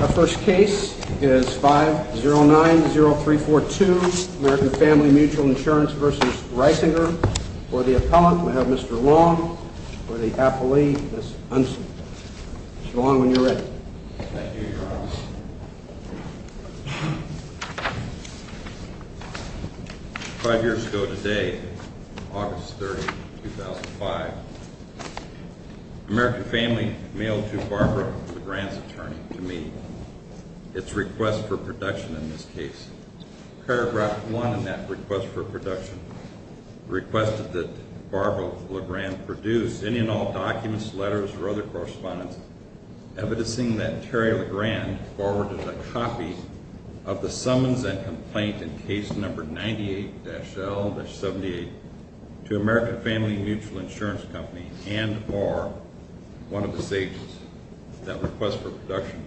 Our first case is 5090342, American Family Mutual Insurance v. Risinger. For the appellant, we have Mr. Long. For the appellee, Ms. Hunson. Mr. Long, when you're ready. Thank you, Your Honor. Five years ago today, August 30, 2005, American Family mailed to Barbara LeGrand's attorney to meet its request for production in this case. Evidencing that Terry LeGrand forwarded a copy of the summons and complaint in case number 98-L-78 to American Family Mutual Insurance Company and or one of the states that request for production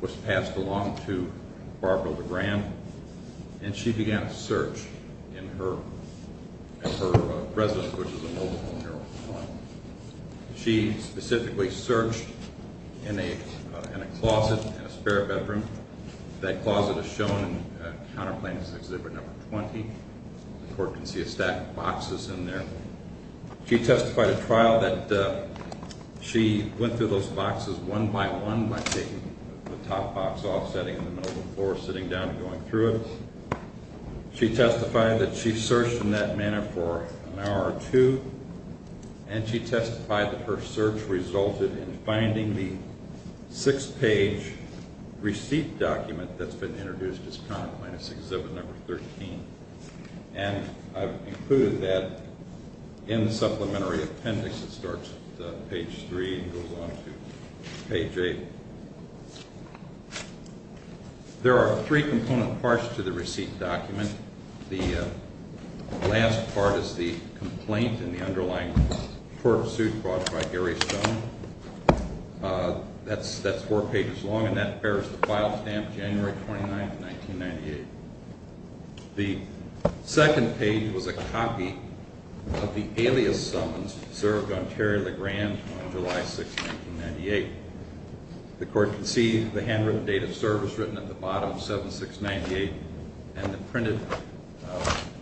was passed along to Barbara LeGrand. And she began a search in her residence, which is a mobile home here on the property. She specifically searched in a closet in a spare bedroom. That closet is shown in Counter Plaintiff's Exhibit Number 20. The court can see a stack of boxes in there. She testified at trial that she went through those boxes one by one by taking the top box off, setting it in the middle of the floor, sitting down and going through it. She testified that she searched in that manner for an hour or two. And she testified that her search resulted in finding the six-page receipt document that's been introduced as Counter Plaintiff's Exhibit Number 13. And I've included that in the supplementary appendix that starts at page 3 and goes on to page 8. There are three component parts to the receipt document. The last part is the complaint in the underlying court suit brought by Gary Stone. That's four pages long and that bears the file stamp January 29, 1998. The second page was a copy of the alias summons served on Terry Legrand on July 6, 1998. The court can see the handwritten date of service written at the bottom, 7698, and the printed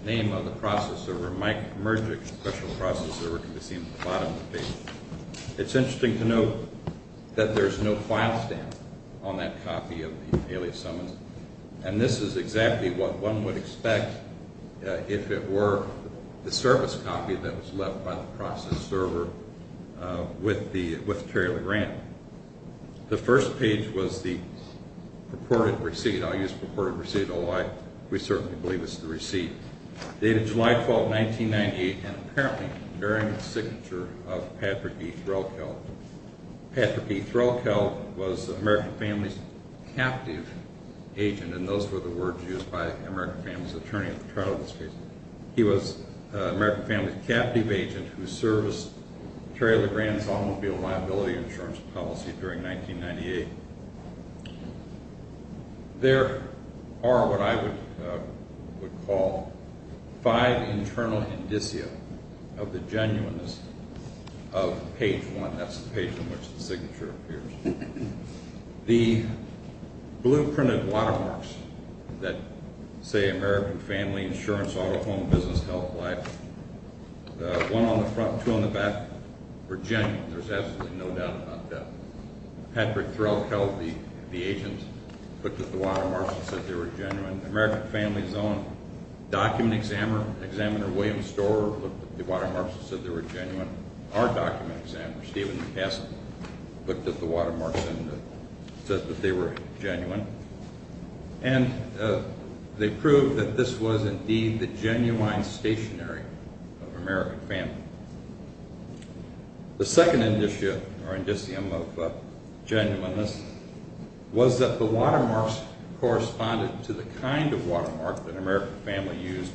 name of the process server, Mike Mergic, special process server can be seen at the bottom of the page. It's interesting to note that there's no file stamp on that copy of the alias summons. And this is exactly what one would expect if it were the service copy that was left by the process server with Terry Legrand. The first page was the purported receipt. I'll use purported receipt. We certainly believe it's the receipt. Dated July 12, 1998 and apparently bearing the signature of Patrick E. Threlkeld. Patrick E. Threlkeld was the American family's captive agent, and those were the words used by the American family's attorney at the trial of this case. He was the American family's captive agent who serviced Terry Legrand's automobile liability insurance policy during 1998. There are what I would call five internal indicia of the genuineness of page one. That's the page in which the signature appears. The blueprinted watermarks that say American family insurance, auto, home, business, health, life, one on the front, two on the back, were genuine. There's absolutely no doubt about that. Patrick Threlkeld, the agent, looked at the watermarks and said they were genuine. The American family's own document examiner, Examiner William Storer, looked at the watermarks and said they were genuine. Our document examiner, Steven McCaskill, looked at the watermarks and said that they were genuine. And they proved that this was indeed the genuine stationery of American family. The second indicia or indicium of genuineness was that the watermarks corresponded to the kind of watermark that American family used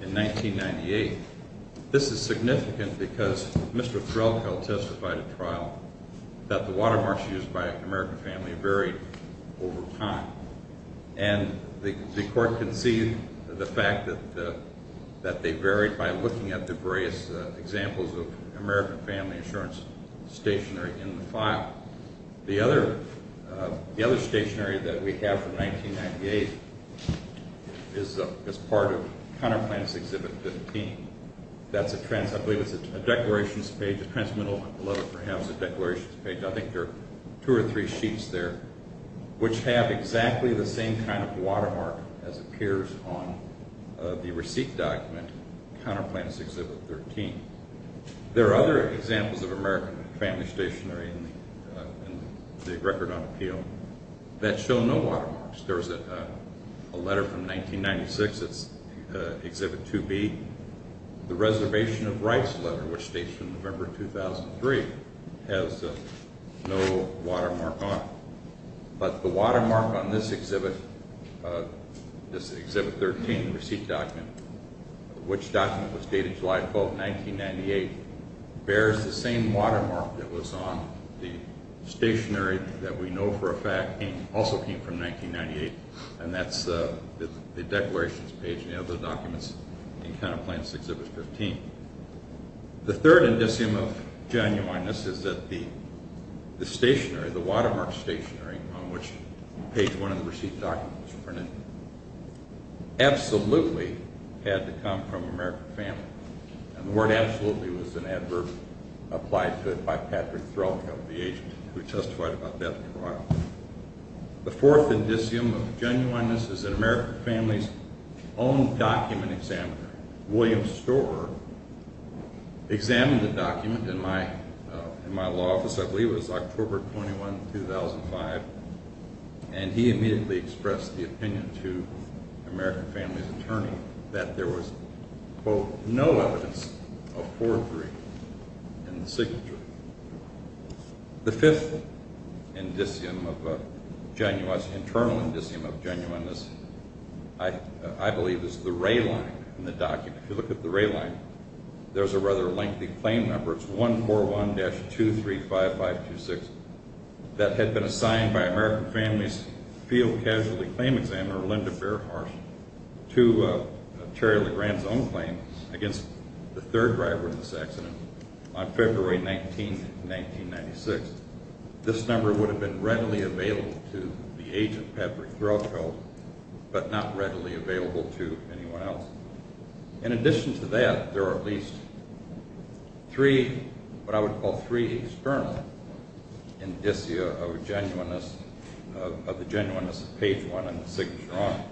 in 1998. This is significant because Mr. Threlkeld testified at trial that the watermarks used by American family varied over time. And the court conceded the fact that they varied by looking at the various examples of American family insurance stationery in the file. The other stationery that we have from 1998 is part of Counter Plants Exhibit 15. I believe it's a declarations page, a transmittal letter perhaps, a declarations page. I think there are two or three sheets there which have exactly the same kind of watermark as appears on the receipt document, Counter Plants Exhibit 13. There are other examples of American family stationery in the record on appeal that show no watermarks. There's a letter from 1996, it's Exhibit 2B. The Reservation of Rights letter, which dates from November 2003, has no watermark on it. But the watermark on this exhibit, this Exhibit 13 receipt document, which document was dated July 12, 1998, bears the same watermark that was on the stationery that we know for a fact also came from 1998. And that's the declarations page and the other documents in Counter Plants Exhibit 15. The third indicium of genuineness is that the stationery, the watermark stationery on which page one of the receipt document was printed, absolutely had to come from American family. And the word absolutely was an adverb applied to it by Patrick Threlkel, the agent who testified about death in the wild. The fourth indicium of genuineness is that American Family's own document examiner, William Storer, examined the document in my law office, I believe it was October 21, 2005, and he immediately expressed the opinion to American Family's attorney that there was, quote, no evidence of forgery in the signature. The fifth indicium of genuineness, internal indicium of genuineness, I believe, is the ray line in the document. If you look at the ray line, there's a rather lengthy claim number. It's 141-235526. That had been assigned by American Family's field casualty claim examiner, Linda Fairharsh, to Terry Legrand's own claim against the third driver in this accident on February 19, 1996. This number would have been readily available to the agent, Patrick Threlkel, but not readily available to anyone else. In addition to that, there are at least three, what I would call three external indicia of genuineness, of the genuineness of page one and the signature on it.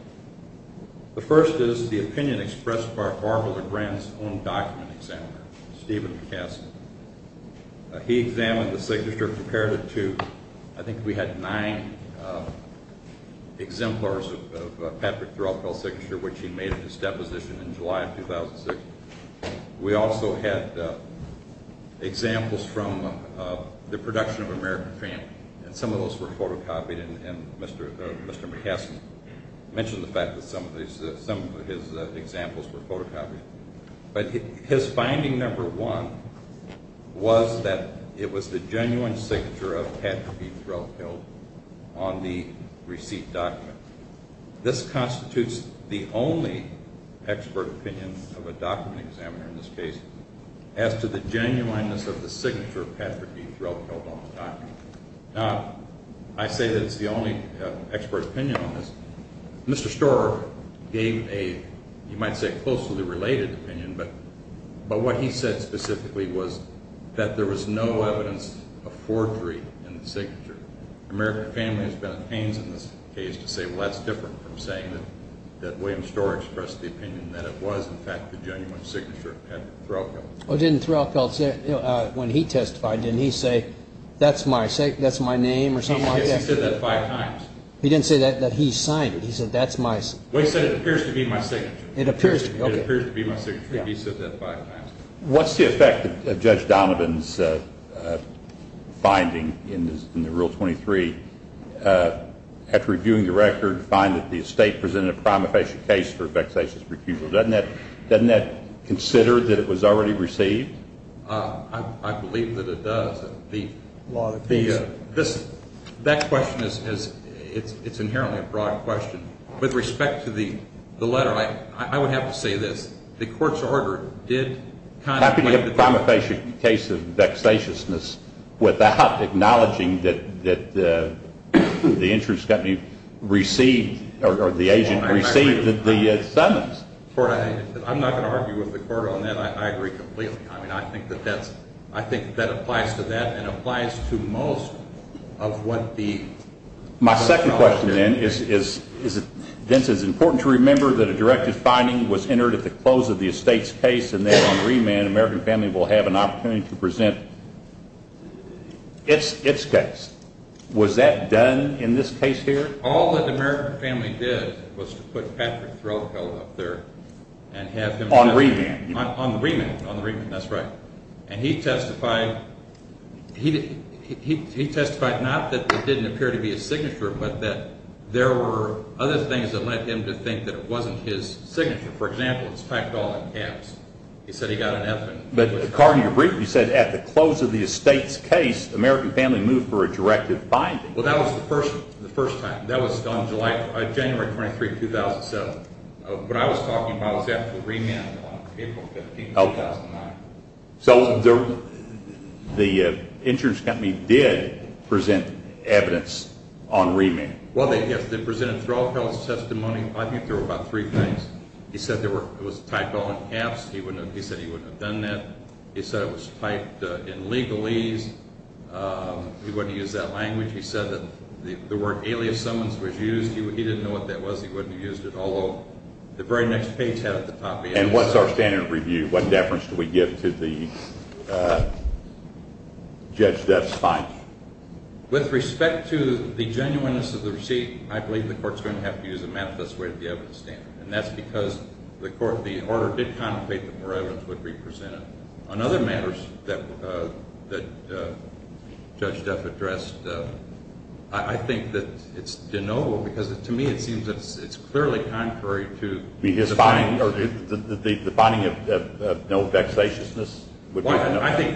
The first is the opinion expressed by Barbara Legrand's own document examiner, Stephen Cassidy. He examined the signature, compared it to, I think we had nine exemplars of Patrick Threlkel's signature, which he made at his deposition in July of 2006. We also had examples from the production of American Family, and some of those were photocopied, and Mr. McCaskill mentioned the fact that some of his examples were photocopied. But his finding number one was that it was the genuine signature of Patrick B. Threlkel on the receipt document. This constitutes the only expert opinion of a document examiner in this case as to the genuineness of the signature of Patrick B. Threlkel on the document. Now, I say that it's the only expert opinion on this. Mr. Storer gave a, you might say, closely related opinion, but what he said specifically was that there was no evidence of forgery in the signature. American Family has been at pains in this case to say, well, that's different from saying that William Storer expressed the opinion that it was, in fact, the genuine signature of Patrick Threlkel. Oh, didn't Threlkel say, when he testified, didn't he say, that's my name or something like that? He said that five times. He didn't say that he signed it. He said, that's my signature. Well, he said, it appears to be my signature. It appears to be, okay. It appears to be my signature. He said that five times. What's the effect of Judge Donovan's finding in the Rule 23? After reviewing the record, find that the estate presented a crime of facial case for vexatious refusal. Doesn't that consider that it was already received? I believe that it does. That question is inherently a broad question. With respect to the letter, I would have to say this. The court's order did contemplate the crime of facial case of vexatiousness without acknowledging that the insurance company received or the agent received the summons. I'm not going to argue with the court on that. I agree completely. I mean, I think that that's, I think that applies to that and applies to most of what the. My second question, then, is, Vince, it's important to remember that a directed finding was entered at the close of the estate's case and that on remand, American Family will have an opportunity to present its case. Was that done in this case here? All that American Family did was to put Patrick Threlfall up there and have him. On remand. On the remand. On the remand. That's right. And he testified, he testified not that there didn't appear to be a signature, but that there were other things that led him to think that it wasn't his signature. For example, it's packed all in caps. He said he got an F in it. But, Cardinal, you briefly said at the close of the estate's case, American Family moved for a directed finding. Well, that was the first time. That was on January 23, 2007. What I was talking about was after the remand on April 15, 2009. So the insurance company did present evidence on remand. Well, they did. They presented Threlfall's testimony. I think there were about three things. He said it was typed all in caps. He said he wouldn't have done that. He said it was typed in legalese. He wouldn't have used that language. He said that the word alias summons was used. He didn't know what that was. He wouldn't have used it, although the very next page had it at the top. And what's our standard review? What deference do we give to the Judge Duff's finding? With respect to the genuineness of the receipt, I believe the court's going to have to use a manifest way to be able to stand it. And that's because the order did contemplate the more evidence would be presented. On other matters that Judge Duff addressed, I think that it's deniable because, to me, it seems that it's clearly contrary to the finding. The finding of no vexatiousness? I think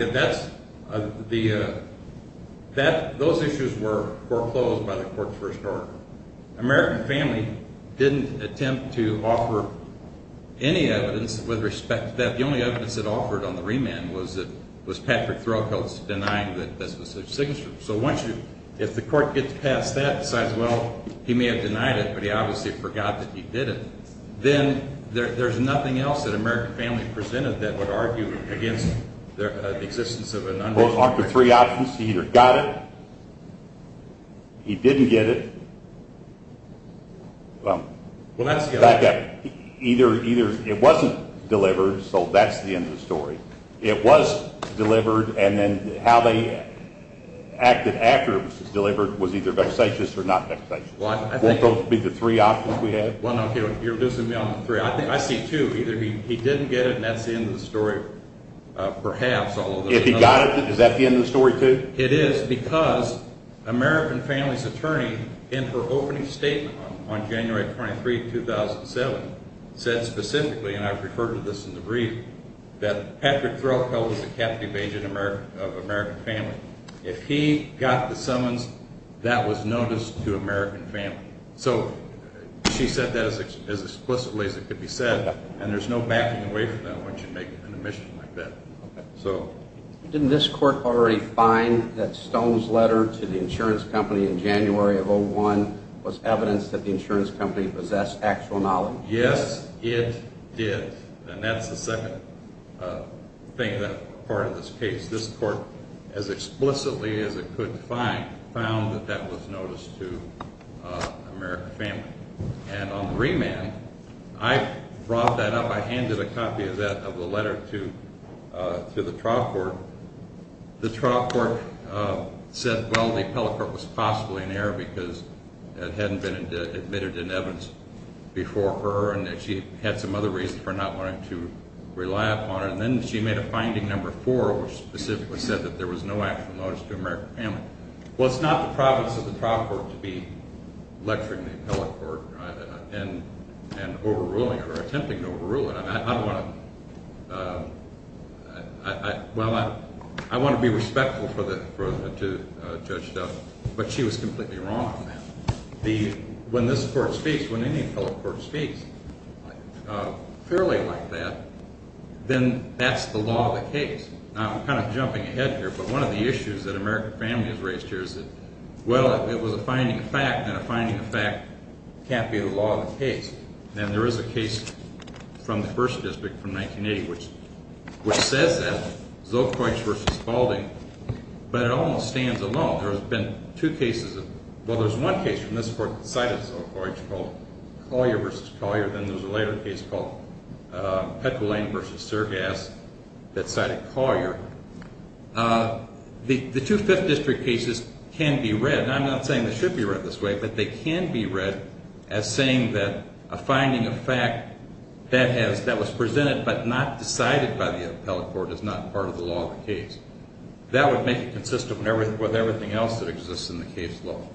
that those issues were foreclosed by the court's first order. American Family didn't attempt to offer any evidence with respect to that. The only evidence it offered on the remand was Patrick Threlfall's denying that this was his signature. So if the court gets past that and decides, well, he may have denied it, but he obviously forgot that he did it, then there's nothing else that American Family presented that would argue against the existence of an undisclosed record. Well, it was offered three options. He either got it, he didn't get it, either it wasn't delivered, so that's the end of the story. It was delivered, and then how they acted after it was delivered was either vexatious or not vexatious. Won't those be the three options we have? Well, no, you're reducing me on the three. I see two, either he didn't get it and that's the end of the story, perhaps, although there's another. If he got it, is that the end of the story, too? It is because American Family's attorney, in her opening statement on January 23, 2007, said specifically, and I've referred to this in the brief, that Patrick Threlfall was a captive agent of American Family. If he got the summons, that was notice to American Family. So she said that as explicitly as it could be said, and there's no backing away from that when she's making an admission like that. Didn't this court already find that Stone's letter to the insurance company in January of 2001 was evidence that the insurance company possessed actual knowledge? Yes, it did, and that's the second part of this case. This court, as explicitly as it could find, found that that was notice to American Family. And on the remand, I brought that up, I handed a copy of that, of the letter to the trial court. The trial court said, well, the appellate court was possibly in error because it hadn't been admitted in evidence before her and that she had some other reason for not wanting to rely upon it. And then she made a finding, number four, which specifically said that there was no actual notice to American Family. Well, it's not the province of the trial court to be lecturing the appellate court and overruling it or attempting to overrule it. I don't want to – well, I want to be respectful to Judge Duff, but she was completely wrong on that. When this court speaks, when any appellate court speaks fairly like that, then that's the law of the case. Now, I'm kind of jumping ahead here, but one of the issues that American Family has raised here is that, well, it was a finding of fact, and a finding of fact can't be the law of the case. And there is a case from the 1st District from 1980 which says that, Zolkoits v. Balding, but it almost stands alone. There has been two cases of – well, there's one case from this court that cited Zolkoits called Collier v. Collier. Then there's a later case called Petrolaine v. Sergass that cited Collier. The two 5th District cases can be read – now, I'm not saying they should be read this way, but they can be read as saying that a finding of fact that was presented but not decided by the appellate court is not part of the law of the case. That would make it consistent with everything else that exists in the case law.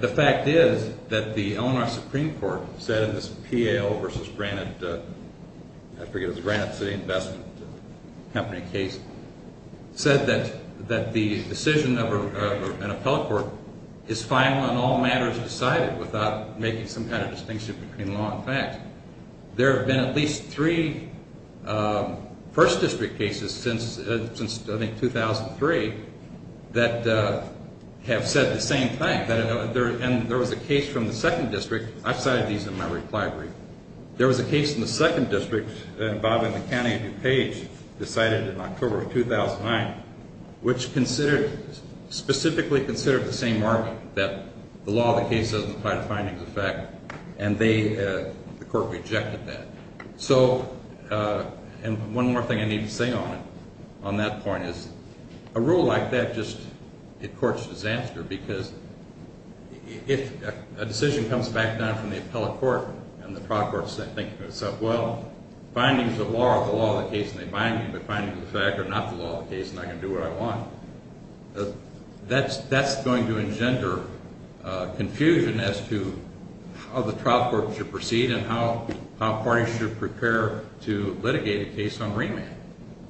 The fact is that the Eleanor Supreme Court said in this P.A.L. v. Granite – I forget, it was Granite City Investment Company case – said that the decision of an appellate court is final in all matters decided without making some kind of distinction between law and fact. There have been at least three 1st District cases since, I think, 2003 that have said the same thing. And there was a case from the 2nd District – I've cited these in my reply brief. There was a case in the 2nd District involving the county of DuPage decided in October of 2009, which specifically considered the same argument that the law of the case doesn't apply to findings of fact. And the court rejected that. So – and one more thing I need to say on that point is a rule like that just – it courts disaster, because if a decision comes back down from the appellate court and the proc court is thinking to itself, well, findings of law are the law of the case and they bind me, but findings of fact are not the law of the case and I can do what I want. That's going to engender confusion as to how the trial court should proceed and how parties should prepare to litigate a case on remand.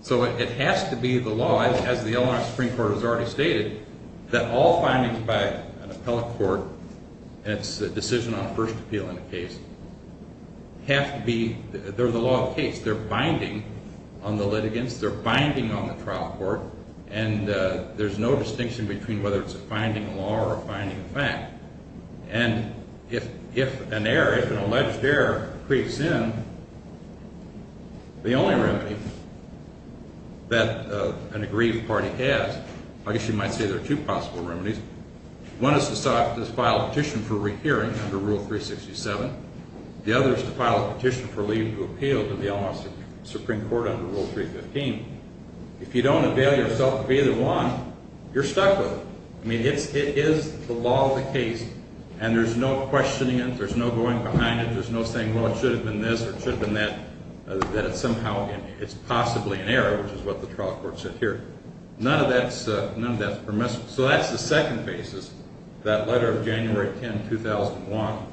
So it has to be the law, as the Illinois Supreme Court has already stated, that all findings by an appellate court, and it's a decision on a first appeal in a case, have to be – they're the law of the case. They're binding on the litigants. They're binding on the trial court. And there's no distinction between whether it's a finding of law or a finding of fact. And if an error, if an alleged error creeps in, the only remedy that an aggrieved party has – I guess you might say there are two possible remedies. One is to file a petition for rehearing under Rule 367. The other is to file a petition for leave to appeal to the Illinois Supreme Court under Rule 315. If you don't avail yourself of either one, you're stuck with it. I mean, it is the law of the case and there's no questioning it. There's no going behind it. There's no saying, well, it should have been this or it should have been that, that it's somehow – it's possibly an error, which is what the trial court said here. None of that's permissible. So that's the second basis, that letter of January 10, 2001,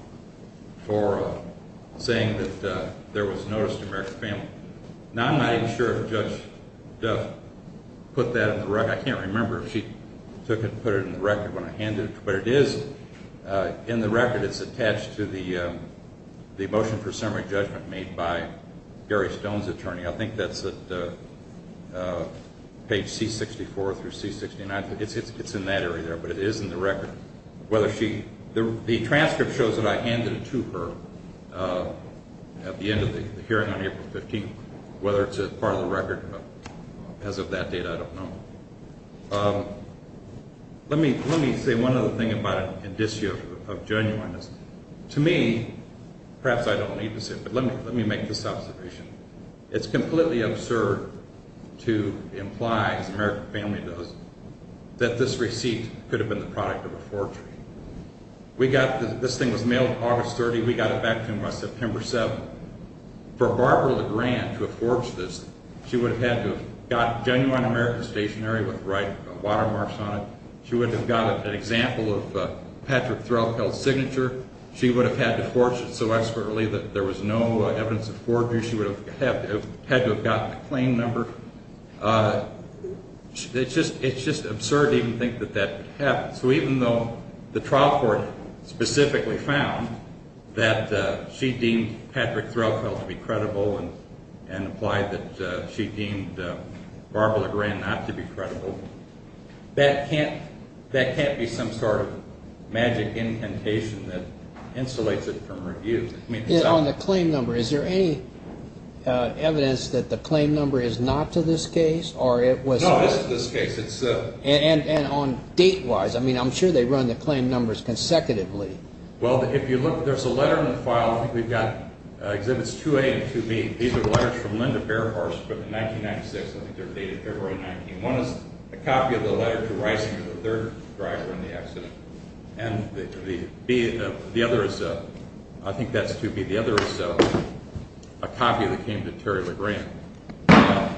for saying that there was notice to American family. Now I'm not even sure if Judge Duff put that in the record. I can't remember if she took it and put it in the record when I handed it to her. But it is in the record. It's attached to the motion for summary judgment made by Gary Stone's attorney. I think that's at page C-64 through C-69. It's in that area there, but it is in the record. Whether she – the transcript shows that I handed it to her at the end of the hearing on April 15th. Whether it's a part of the record as of that date, I don't know. Let me say one other thing about an indicio of genuineness. To me – perhaps I don't need to say it, but let me make this observation. It's completely absurd to imply, as the American family does, that this receipt could have been the product of a forgery. We got – this thing was mailed August 30th. We got it back to him by September 7th. For Barbara Legrand to have forged this, she would have had to have got genuine American stationery with watermarks on it. She would have got an example of Patrick Threlfeld's signature. She would have had to forge it so expertly that there was no evidence of forgery. She would have had to have gotten a claim number. It's just absurd to even think that that would happen. So even though the trial court specifically found that she deemed Patrick Threlfeld to be credible and implied that she deemed Barbara Legrand not to be credible, that can't be some sort of magic incantation that insulates it from review. On the claim number, is there any evidence that the claim number is not to this case? No, it's to this case. And on date-wise? I mean, I'm sure they run the claim numbers consecutively. Well, if you look, there's a letter in the file. I think we've got Exhibits 2A and 2B. These are the letters from Linda Bearhorse from 1996. I think they're dated February 19. One is a copy of the letter to Reisinger, the third driver in the accident. And the other is, I think that's 2B. The other is a copy that came to Terry Legrand. I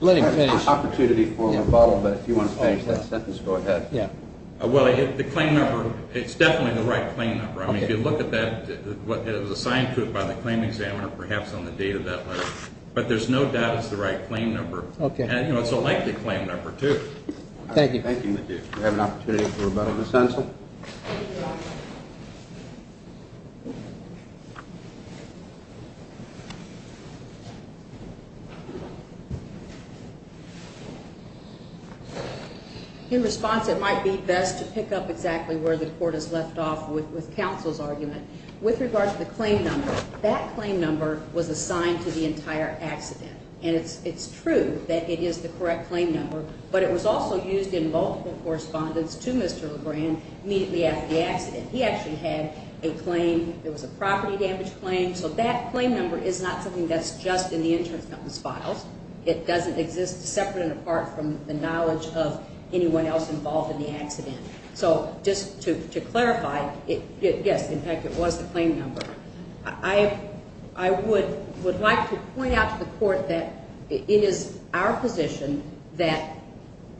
have an opportunity for rebuttal, but if you want to change that sentence, go ahead. Well, the claim number, it's definitely the right claim number. I mean, if you look at that, it was assigned to it by the claim examiner, perhaps on the date of that letter. But there's no doubt it's the right claim number. And it's a likely claim number, too. Thank you. We have an opportunity for rebuttal, Ms. Hensel. In response, it might be best to pick up exactly where the court has left off with counsel's argument. With regard to the claim number, that claim number was assigned to the entire accident. And it's true that it is the correct claim number. But it was also used in multiple correspondence to Mr. Legrand immediately after the accident. He actually had a claim. It was a property damage claim. So that claim number is not something that's just in the insurance company's files. It doesn't exist separate and apart from the knowledge of anyone else involved in the accident. So just to clarify, yes, in fact, it was the claim number. I would like to point out to the court that it is our position that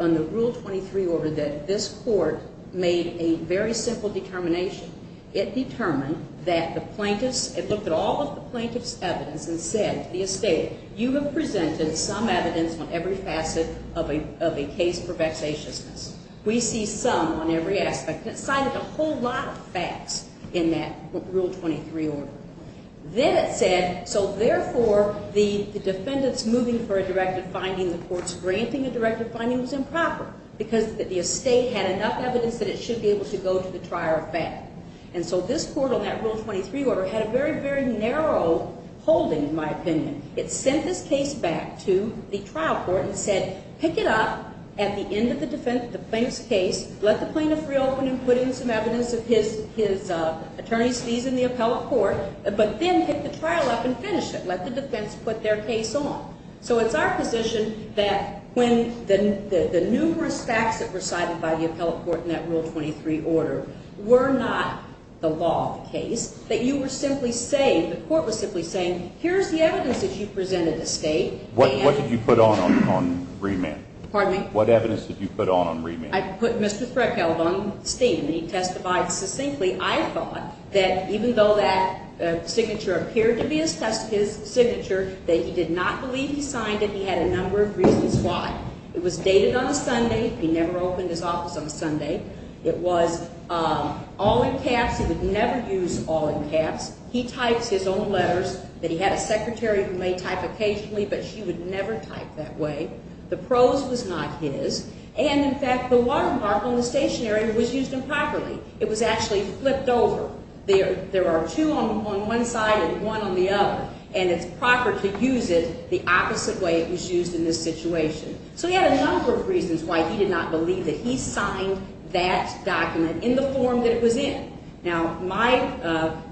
on the Rule 23 order that this court made a very simple determination. It determined that the plaintiffs, it looked at all of the plaintiff's evidence and said to the estate, you have presented some evidence on every facet of a case for vexatiousness. We see some on every aspect. And it cited a whole lot of facts in that Rule 23 order. Then it said, so therefore, the defendants moving for a directive finding, the courts granting a directive finding was improper because the estate had enough evidence that it should be able to go to the trier of fact. And so this court on that Rule 23 order had a very, very narrow holding, in my opinion. It sent this case back to the trial court and said, pick it up at the end of the plaintiff's case. Let the plaintiff reopen and put in some evidence of his attorney's fees in the appellate court. But then pick the trial up and finish it. Let the defense put their case on. So it's our position that when the numerous facts that were cited by the appellate court in that Rule 23 order were not the law of the case, that you were simply saying, the court was simply saying, here's the evidence that you presented to state. What did you put on on remand? Pardon me? What evidence did you put on on remand? I put Mr. Frecheld on steam. He testified succinctly, I thought, that even though that signature appeared to be his signature, that he did not believe he signed it. He had a number of reasons why. It was dated on a Sunday. He never opened his office on a Sunday. It was all in caps. He would never use all in caps. He types his own letters that he had a secretary who may type occasionally, but she would never type that way. The prose was not his. And, in fact, the watermark on the stationery was used improperly. It was actually flipped over. There are two on one side and one on the other, and it's proper to use it the opposite way it was used in this situation. So he had a number of reasons why he did not believe that he signed that document in the form that it was in. Now, my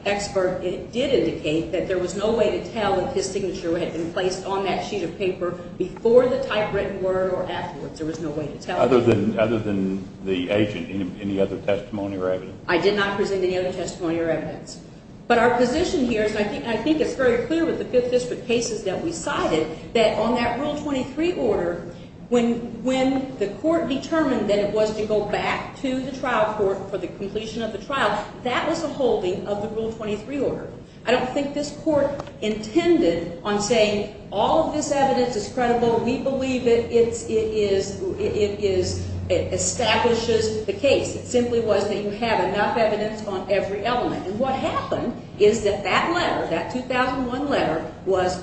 expert did indicate that there was no way to tell if his signature had been placed on that sheet of paper before the typewritten word or afterwards. There was no way to tell. Other than the agent, any other testimony or evidence? I did not present any other testimony or evidence. But our position here is, and I think it's very clear with the Fifth District cases that we cited, that on that Rule 23 order, when the court determined that it was to go back to the trial court for the completion of the trial, that was the holding of the Rule 23 order. I don't think this court intended on saying all of this evidence is credible. We believe it establishes the case. It simply was that you have enough evidence on every element. And what happened is that that letter, that 2001 letter, was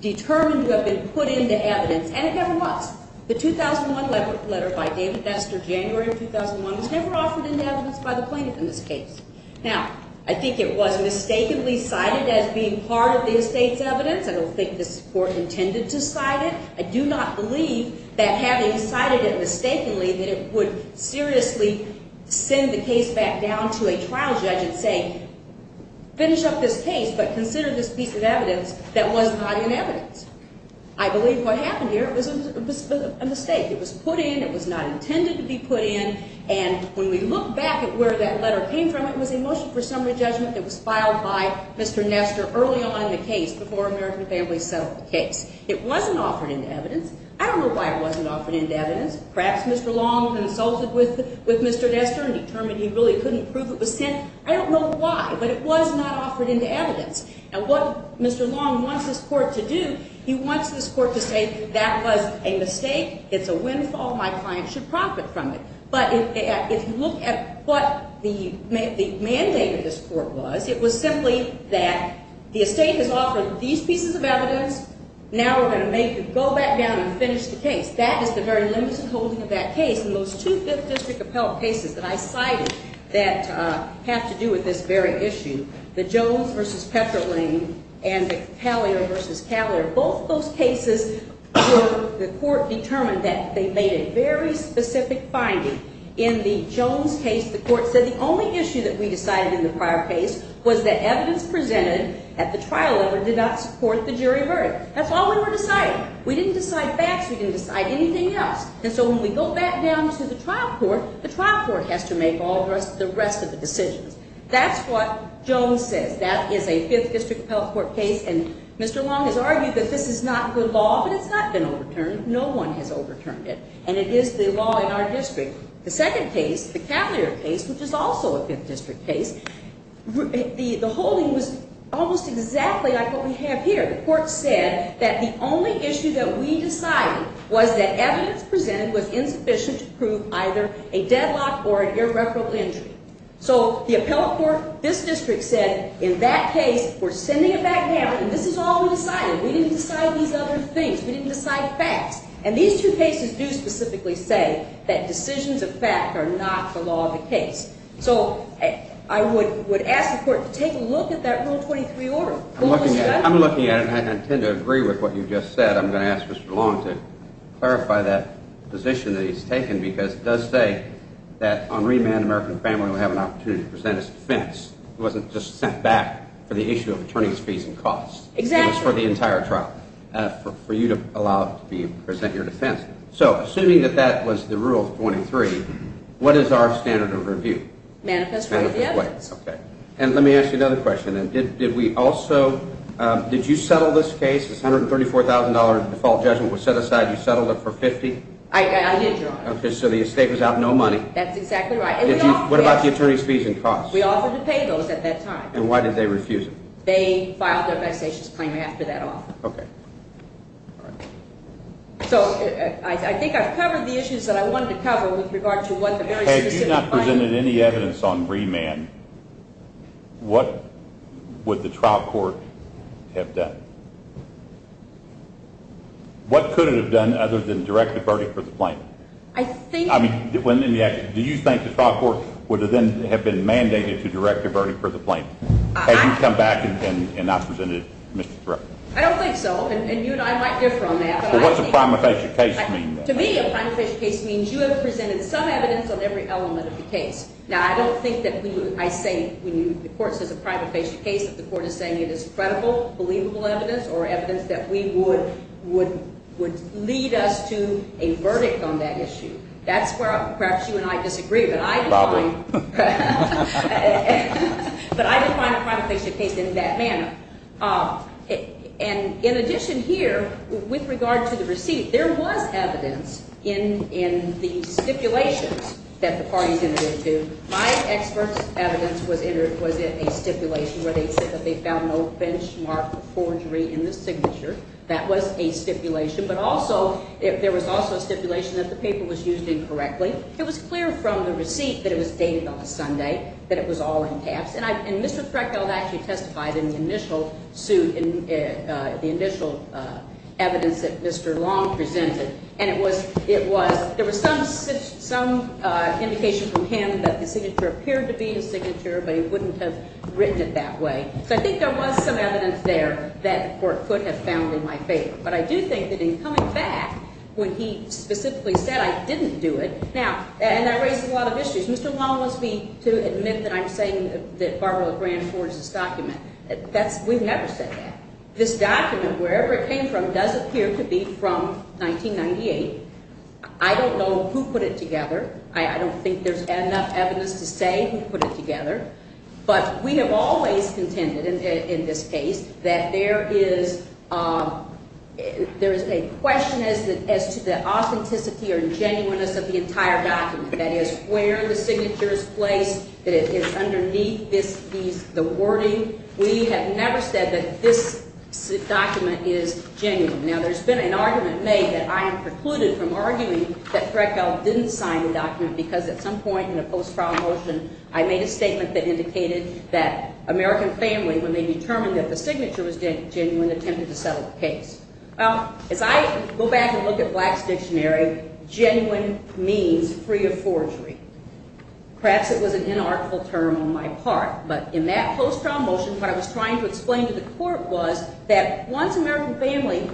determined to have been put into evidence, and it never was. The 2001 letter by David Nestor, January of 2001, was never offered into evidence by the plaintiff in this case. Now, I think it was mistakenly cited as being part of the estate's evidence. I don't think this court intended to cite it. I do not believe that having cited it mistakenly that it would seriously send the case back down to a trial judge and say, finish up this case, but consider this piece of evidence that was not in evidence. I believe what happened here was a mistake. It was put in. It was not intended to be put in. And when we look back at where that letter came from, it was a motion for summary judgment that was filed by Mr. Nestor early on in the case, before American Families settled the case. It wasn't offered into evidence. I don't know why it wasn't offered into evidence. Perhaps Mr. Long consulted with Mr. Nestor and determined he really couldn't prove it was sent. I don't know why, but it was not offered into evidence. And what Mr. Long wants this court to do, he wants this court to say, that was a mistake, it's a windfall, my client should profit from it. But if you look at what the mandate of this court was, it was simply that the estate has offered these pieces of evidence, now we're going to make it go back down and finish the case. That is the very limousine holding of that case. And those two Fifth District appellate cases that I cited that have to do with this very issue, the Jones v. Petroling and the Callier v. Callier, both those cases where the court determined that they made a very specific finding. In the Jones case, the court said the only issue that we decided in the prior case was that evidence presented at the trial level did not support the jury verdict. That's all we were deciding. We didn't decide facts, we didn't decide anything else. And so when we go back down to the trial court, the trial court has to make all the rest of the decisions. That's what Jones says. That is a Fifth District appellate court case. And Mr. Long has argued that this is not good law, but it's not been overturned. No one has overturned it. And it is the law in our district. The second case, the Callier case, which is also a Fifth District case, the holding was almost exactly like what we have here. The court said that the only issue that we decided was that evidence presented was insufficient to prove either a deadlock or an irreparable injury. So the appellate court, this district said, in that case, we're sending it back down, and this is all we decided. We didn't decide these other things. We didn't decide facts. And these two cases do specifically say that decisions of fact are not the law of the case. So I would ask the court to take a look at that Rule 23 order. I'm looking at it, and I tend to agree with what you just said. I'm going to ask Mr. Long to clarify that position that he's taken because it does say that on remand, an American family will have an opportunity to present his defense. It wasn't just sent back for the issue of attorney's fees and costs. It was for the entire trial, for you to allow to present your defense. So assuming that that was the Rule 23, what is our standard of review? Manifest right of the evidence. And let me ask you another question. Did we also ñ did you settle this case? This $134,000 default judgment was set aside. You settled it for $50,000? I did, Your Honor. Okay, so the estate was out no money. That's exactly right. What about the attorney's fees and costs? We offered to pay those at that time. And why did they refuse it? They filed their taxation claim after that offer. Okay. All right. So I think I've covered the issues that I wanted to cover with regard to what the very specific findings are. If you presented any evidence on remand, what would the trial court have done? What could it have done other than direct the verdict for the plaintiff? I think ñ I mean, do you think the trial court would then have been mandated to direct the verdict for the plaintiff? Had you come back and not presented it, Mr. Thurow? I don't think so. And you and I might differ on that. So what's a prima facie case mean? To me, a prima facie case means you have presented some evidence on every element of the case. Now, I don't think that we would ñ I say when the court says a prima facie case that the court is saying it is credible, believable evidence or evidence that we would lead us to a verdict on that issue. That's where perhaps you and I disagree. But I define a prima facie case in that manner. And in addition here, with regard to the receipt, there was evidence in the stipulations that the parties entered into. My expert's evidence was in a stipulation where they said that they found no benchmark forgery in the signature. That was a stipulation. But also, there was also a stipulation that the paper was used incorrectly. It was clear from the receipt that it was dated on a Sunday, that it was all in caps. And Mr. Freckel actually testified in the initial suit, in the initial evidence that Mr. Long presented. And it was ñ it was ñ there was some indication from him that the signature appeared to be his signature, but he wouldn't have written it that way. So I think there was some evidence there that the court could have found in my favor. But I do think that in coming back when he specifically said I didn't do it ñ now, and I raised a lot of issues. Mr. Long wants me to admit that I'm saying that Barbara LeGrand forged this document. That's ñ we've never said that. This document, wherever it came from, does appear to be from 1998. I don't know who put it together. I don't think there's enough evidence to say who put it together. But we have always contended in this case that there is ñ there is a question as to the authenticity or genuineness of the entire document. That is, where the signature is placed, that it is underneath this ñ these ñ the wording. We have never said that this document is genuine. Now, there's been an argument made that I am precluded from arguing that Freckel didn't sign the document because at some point in the post-trial motion I made a statement that indicated that American family, when they determined that the signature was genuine, attempted to settle the case. Well, as I go back and look at Black's dictionary, genuine means free of forgery. Perhaps it was an inartful term on my part, but in that post-trial motion, what I was trying to explain to the court was that once American family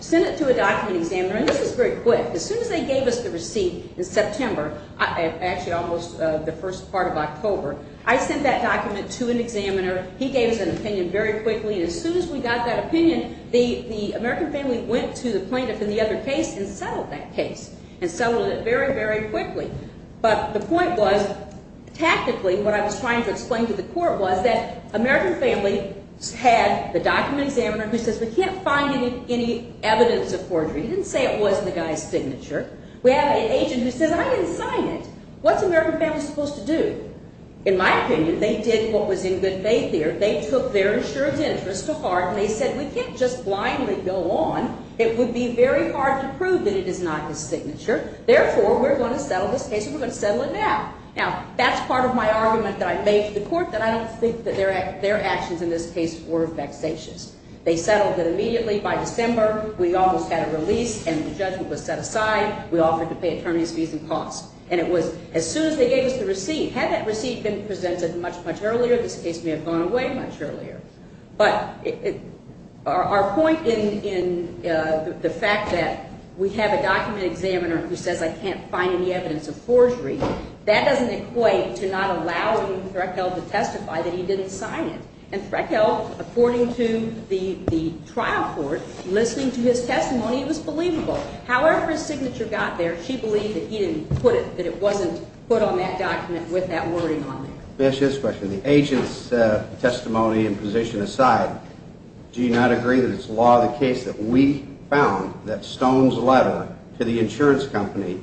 sent it to a document examiner, and this was very quick, as soon as they gave us the receipt in September, actually almost the first part of October, I sent that document to an examiner. He gave us an opinion very quickly. I mean, as soon as we got that opinion, the American family went to the plaintiff in the other case and settled that case and settled it very, very quickly. But the point was, tactically, what I was trying to explain to the court was that American family had the document examiner who says we can't find any evidence of forgery. He didn't say it wasn't the guy's signature. We have an agent who says I didn't sign it. What's American family supposed to do? In my opinion, they did what was in good faith there. They took their insurance interest to heart, and they said we can't just blindly go on. It would be very hard to prove that it is not his signature. Therefore, we're going to settle this case, and we're going to settle it now. Now, that's part of my argument that I made to the court, that I don't think that their actions in this case were vexatious. They settled it immediately by December. We almost had a release, and the judgment was set aside. We offered to pay attorneys' fees and costs. And it was as soon as they gave us the receipt. Had that receipt been presented much, much earlier, this case may have gone away. But our point in the fact that we have a document examiner who says I can't find any evidence of forgery, that doesn't equate to not allowing Threckel to testify that he didn't sign it. And Threckel, according to the trial court, listening to his testimony, it was believable. However his signature got there, she believed that he didn't put it, that it wasn't put on that document with that wording on there. May I ask you this question? The agent's testimony and position aside, do you not agree that it's law of the case that we found that Stone's letter to the insurance company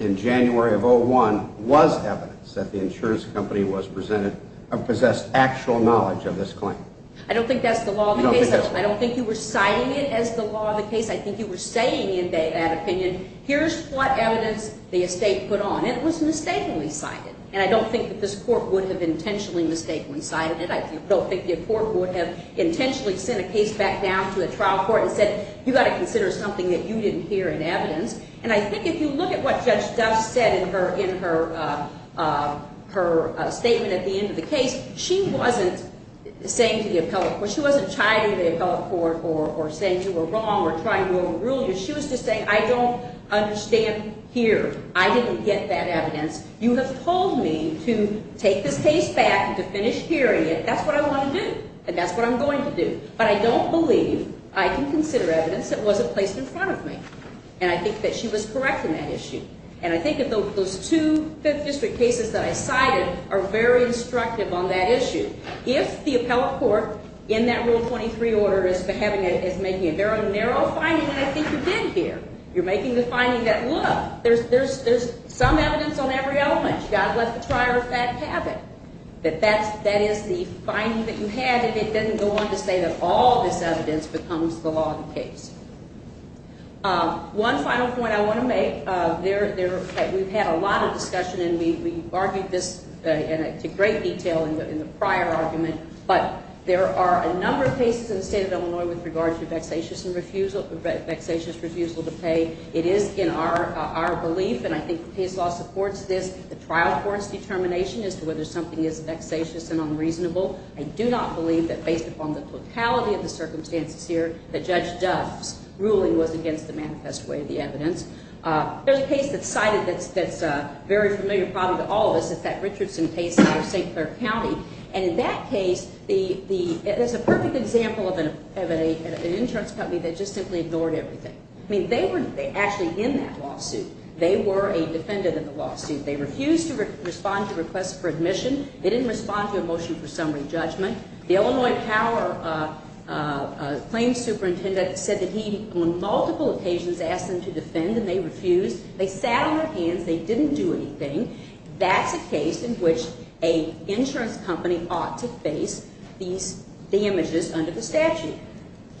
in January of 2001 was evidence that the insurance company was presented or possessed actual knowledge of this claim? I don't think that's the law of the case. I don't think you were citing it as the law of the case. I think you were saying in that opinion, here's what evidence the estate put on. It was mistakenly cited. And I don't think that this court would have intentionally mistakenly cited it. I don't think the court would have intentionally sent a case back down to the trial court and said, you've got to consider something that you didn't hear in evidence. And I think if you look at what Judge Duff said in her statement at the end of the case, she wasn't saying to the appellate court, she wasn't chiding the appellate court or saying you were wrong or trying to overrule you. She was just saying I don't understand here. I didn't get that evidence. You have told me to take this case back and to finish hearing it. That's what I want to do. And that's what I'm going to do. But I don't believe I can consider evidence that wasn't placed in front of me. And I think that she was correct in that issue. And I think that those two 5th District cases that I cited are very instructive on that issue. If the appellate court in that Rule 23 order is making a very narrow finding, and I think you did here, you're making the finding that, look, there's some evidence on every element. You've got to let the trier of fact have it, that that is the finding that you had, and it doesn't go on to say that all this evidence becomes the law of the case. One final point I want to make, we've had a lot of discussion, and we argued this to great detail in the prior argument, but there are a number of cases in the state of Illinois with regards to vexatious refusal to pay. It is in our belief, and I think the case law supports this, the trial court's determination as to whether something is vexatious and unreasonable. I do not believe that, based upon the totality of the circumstances here, that Judge Duff's ruling was against the manifest way of the evidence. There's a case that's cited that's very familiar probably to all of us. It's that Richardson case out of St. Clair County. And in that case, there's a perfect example of an insurance company that just simply ignored everything. I mean, they were actually in that lawsuit. They were a defendant in the lawsuit. They refused to respond to requests for admission. They didn't respond to a motion for summary judgment. The Illinois Power claims superintendent said that he, on multiple occasions, asked them to defend, and they refused. They sat on their hands. They didn't do anything. That's a case in which an insurance company ought to face the damages under the statute.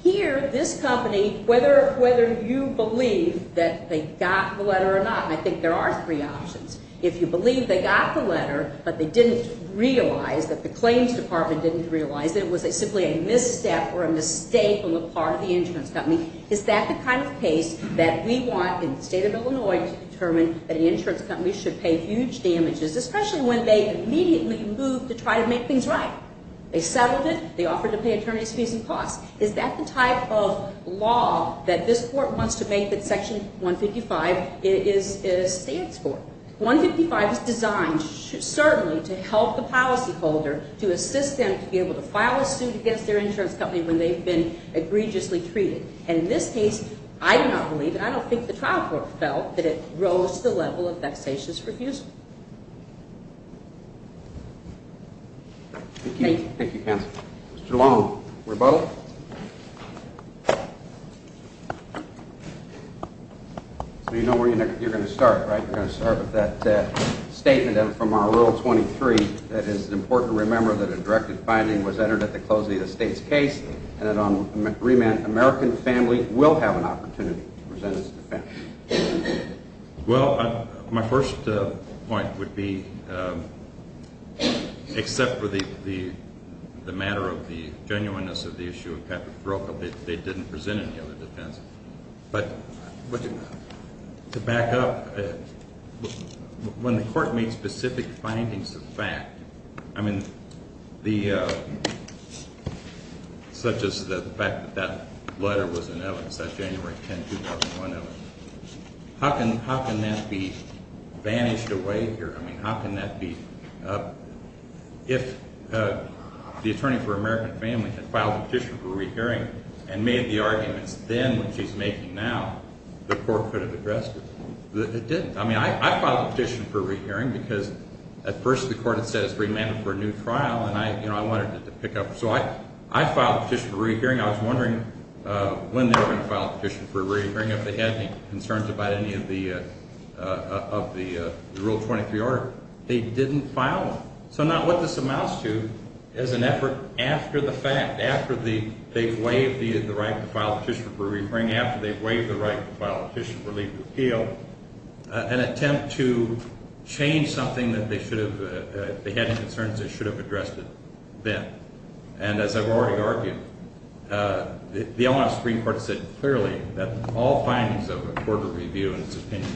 Here, this company, whether you believe that they got the letter or not, I think there are three options. If you believe they got the letter but they didn't realize, that the claims department didn't realize, that it was simply a misstep or a mistake on the part of the insurance company, is that the kind of case that we want in the state of Illinois to determine that an insurance company should pay huge damages, especially when they immediately moved to try to make things right? They settled it. They offered to pay attorneys fees and costs. Is that the type of law that this Court wants to make that Section 155 stands for? 155 is designed certainly to help the policyholder, to assist them to be able to file a suit against their insurance company when they've been egregiously treated. And in this case, I do not believe, and I don't think the trial court felt, that it rose to the level of vexatious refusal. Thank you. Thank you, counsel. Mr. Long, rebuttal. So you know where you're going to start, right? You're going to start with that statement from our Rule 23 that it is important to remember that a directed finding was entered at the closing of the state's case and that an American family will have an opportunity to present its defense. Well, my first point would be, except for the matter of the genuineness of the issue of capital fraud, they didn't present any other defense. But to back up, when the Court made specific findings of fact, I mean, such as the fact that that letter was in evidence, that January 10, 2001 evidence, how can that be banished away here? I mean, how can that be? If the attorney for an American family had filed a petition for a rehearing and made the arguments then, which he's making now, the Court could have addressed it. It didn't. I mean, I filed a petition for a rehearing because at first the Court had said it was remanded for a new trial, and I wanted it to pick up. So I filed a petition for a rehearing. I was wondering when they were going to file a petition for a rehearing, if they had any concerns about any of the Rule 23 order. They didn't file them. So now what this amounts to is an effort after the fact, after they've waived the right to file a petition for a rehearing, after they've waived the right to file a petition for legal appeal, an attempt to change something that they should have, they had concerns they should have addressed it then. And as I've already argued, the O&S Supreme Court said clearly that all findings of a court of review and its opinion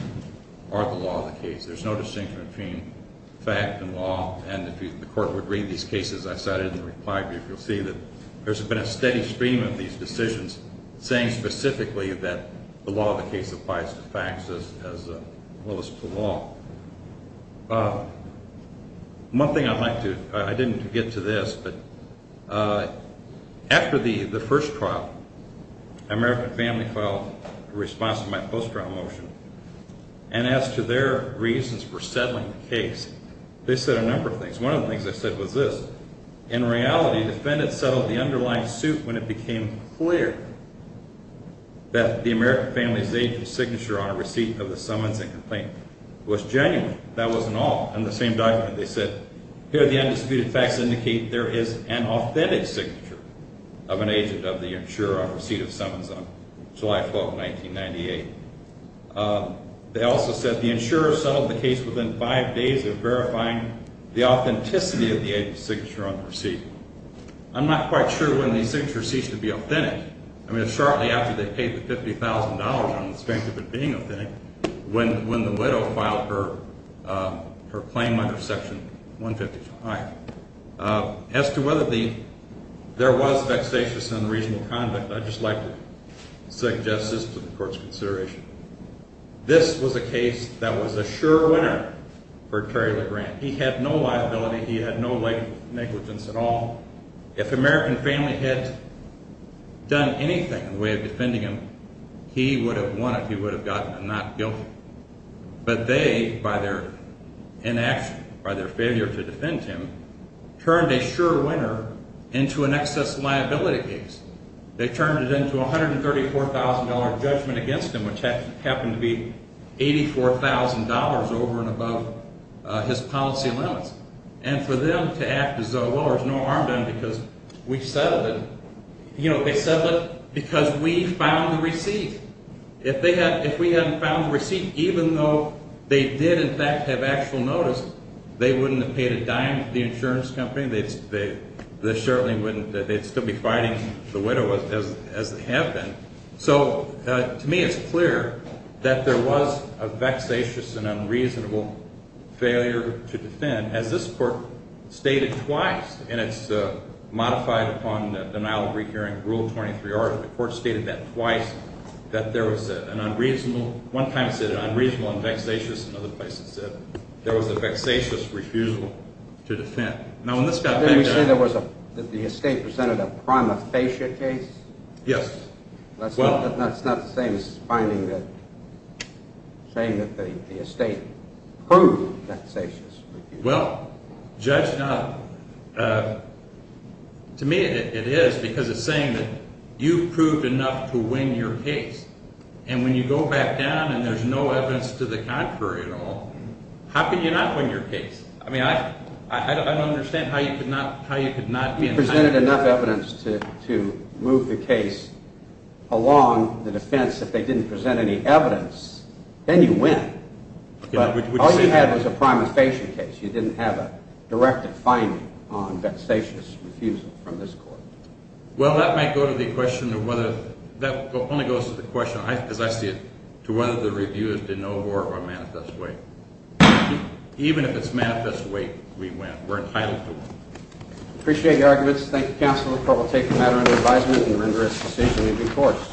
are the law of the case. There's no distinction between fact and law, and if the Court would read these cases I cited in the reply brief, you'll see that there's been a steady stream of these decisions saying specifically that the law of the case applies to facts as well as to law. One thing I'd like to – I didn't get to this, but after the first trial, American Family filed a response to my post-trial motion, and as to their reasons for settling the case, they said a number of things. One of the things they said was this. In reality, defendants settled the underlying suit when it became clear that the American Family's agent's signature on a receipt of the summons and complaint was genuine. That wasn't all. In the same document they said, here the undisputed facts indicate there is an authentic signature of an agent of the insurer on receipt of summons on July 12, 1998. They also said the insurer settled the case within five days of verifying the authenticity of the agent's signature on the receipt. I'm not quite sure when the signature ceased to be authentic. I mean, it's shortly after they paid the $50,000 on the strength of it being authentic, when the widow filed her claim under Section 155. As to whether there was vexatious and unreasonable conduct, I'd just like to suggest this to the Court's consideration. This was a case that was a sure winner for Terry LeGrand. He had no liability. He had no negligence at all. If the American Family had done anything in the way of defending him, he would have won it. He would have gotten a not guilty. But they, by their inaction, by their failure to defend him, turned a sure winner into an excess liability case. They turned it into a $134,000 judgment against him, which happened to be $84,000 over and above his policy limits. And for them to act as though, well, there's no harm done because we settled it, you know, they settled it because we found the receipt. If we hadn't found the receipt, even though they did, in fact, have actual notice, they wouldn't have paid a dime to the insurance company. They certainly wouldn't. They'd still be fighting the widow as they have been. So to me it's clear that there was a vexatious and unreasonable failure to defend. As this Court stated twice in its modified upon denial of recourse Rule 23R, the Court stated that twice, that there was an unreasonable, one time it said unreasonable and vexatious, another place it said there was a vexatious refusal to defend. Didn't we say that the estate presented a prima facie case? Yes. That's not the same as saying that the estate proved vexatious. Well, judge not. To me it is because it's saying that you've proved enough to win your case. And when you go back down and there's no evidence to the contrary at all, how can you not win your case? I mean, I don't understand how you could not be in favor of that. You presented enough evidence to move the case along the defense. If they didn't present any evidence, then you win. But all you had was a prima facie case. You didn't have a directed finding on vexatious refusal from this Court. Well, that might go to the question of whether – that only goes to the question, as I see it, to whether the reviewers did no more of a manifest way. Even if it's a manifest way, we win. We're entitled to it. Appreciate your arguments. Thank you, counsel. The court will take the matter into advisement and render its decision to be forced.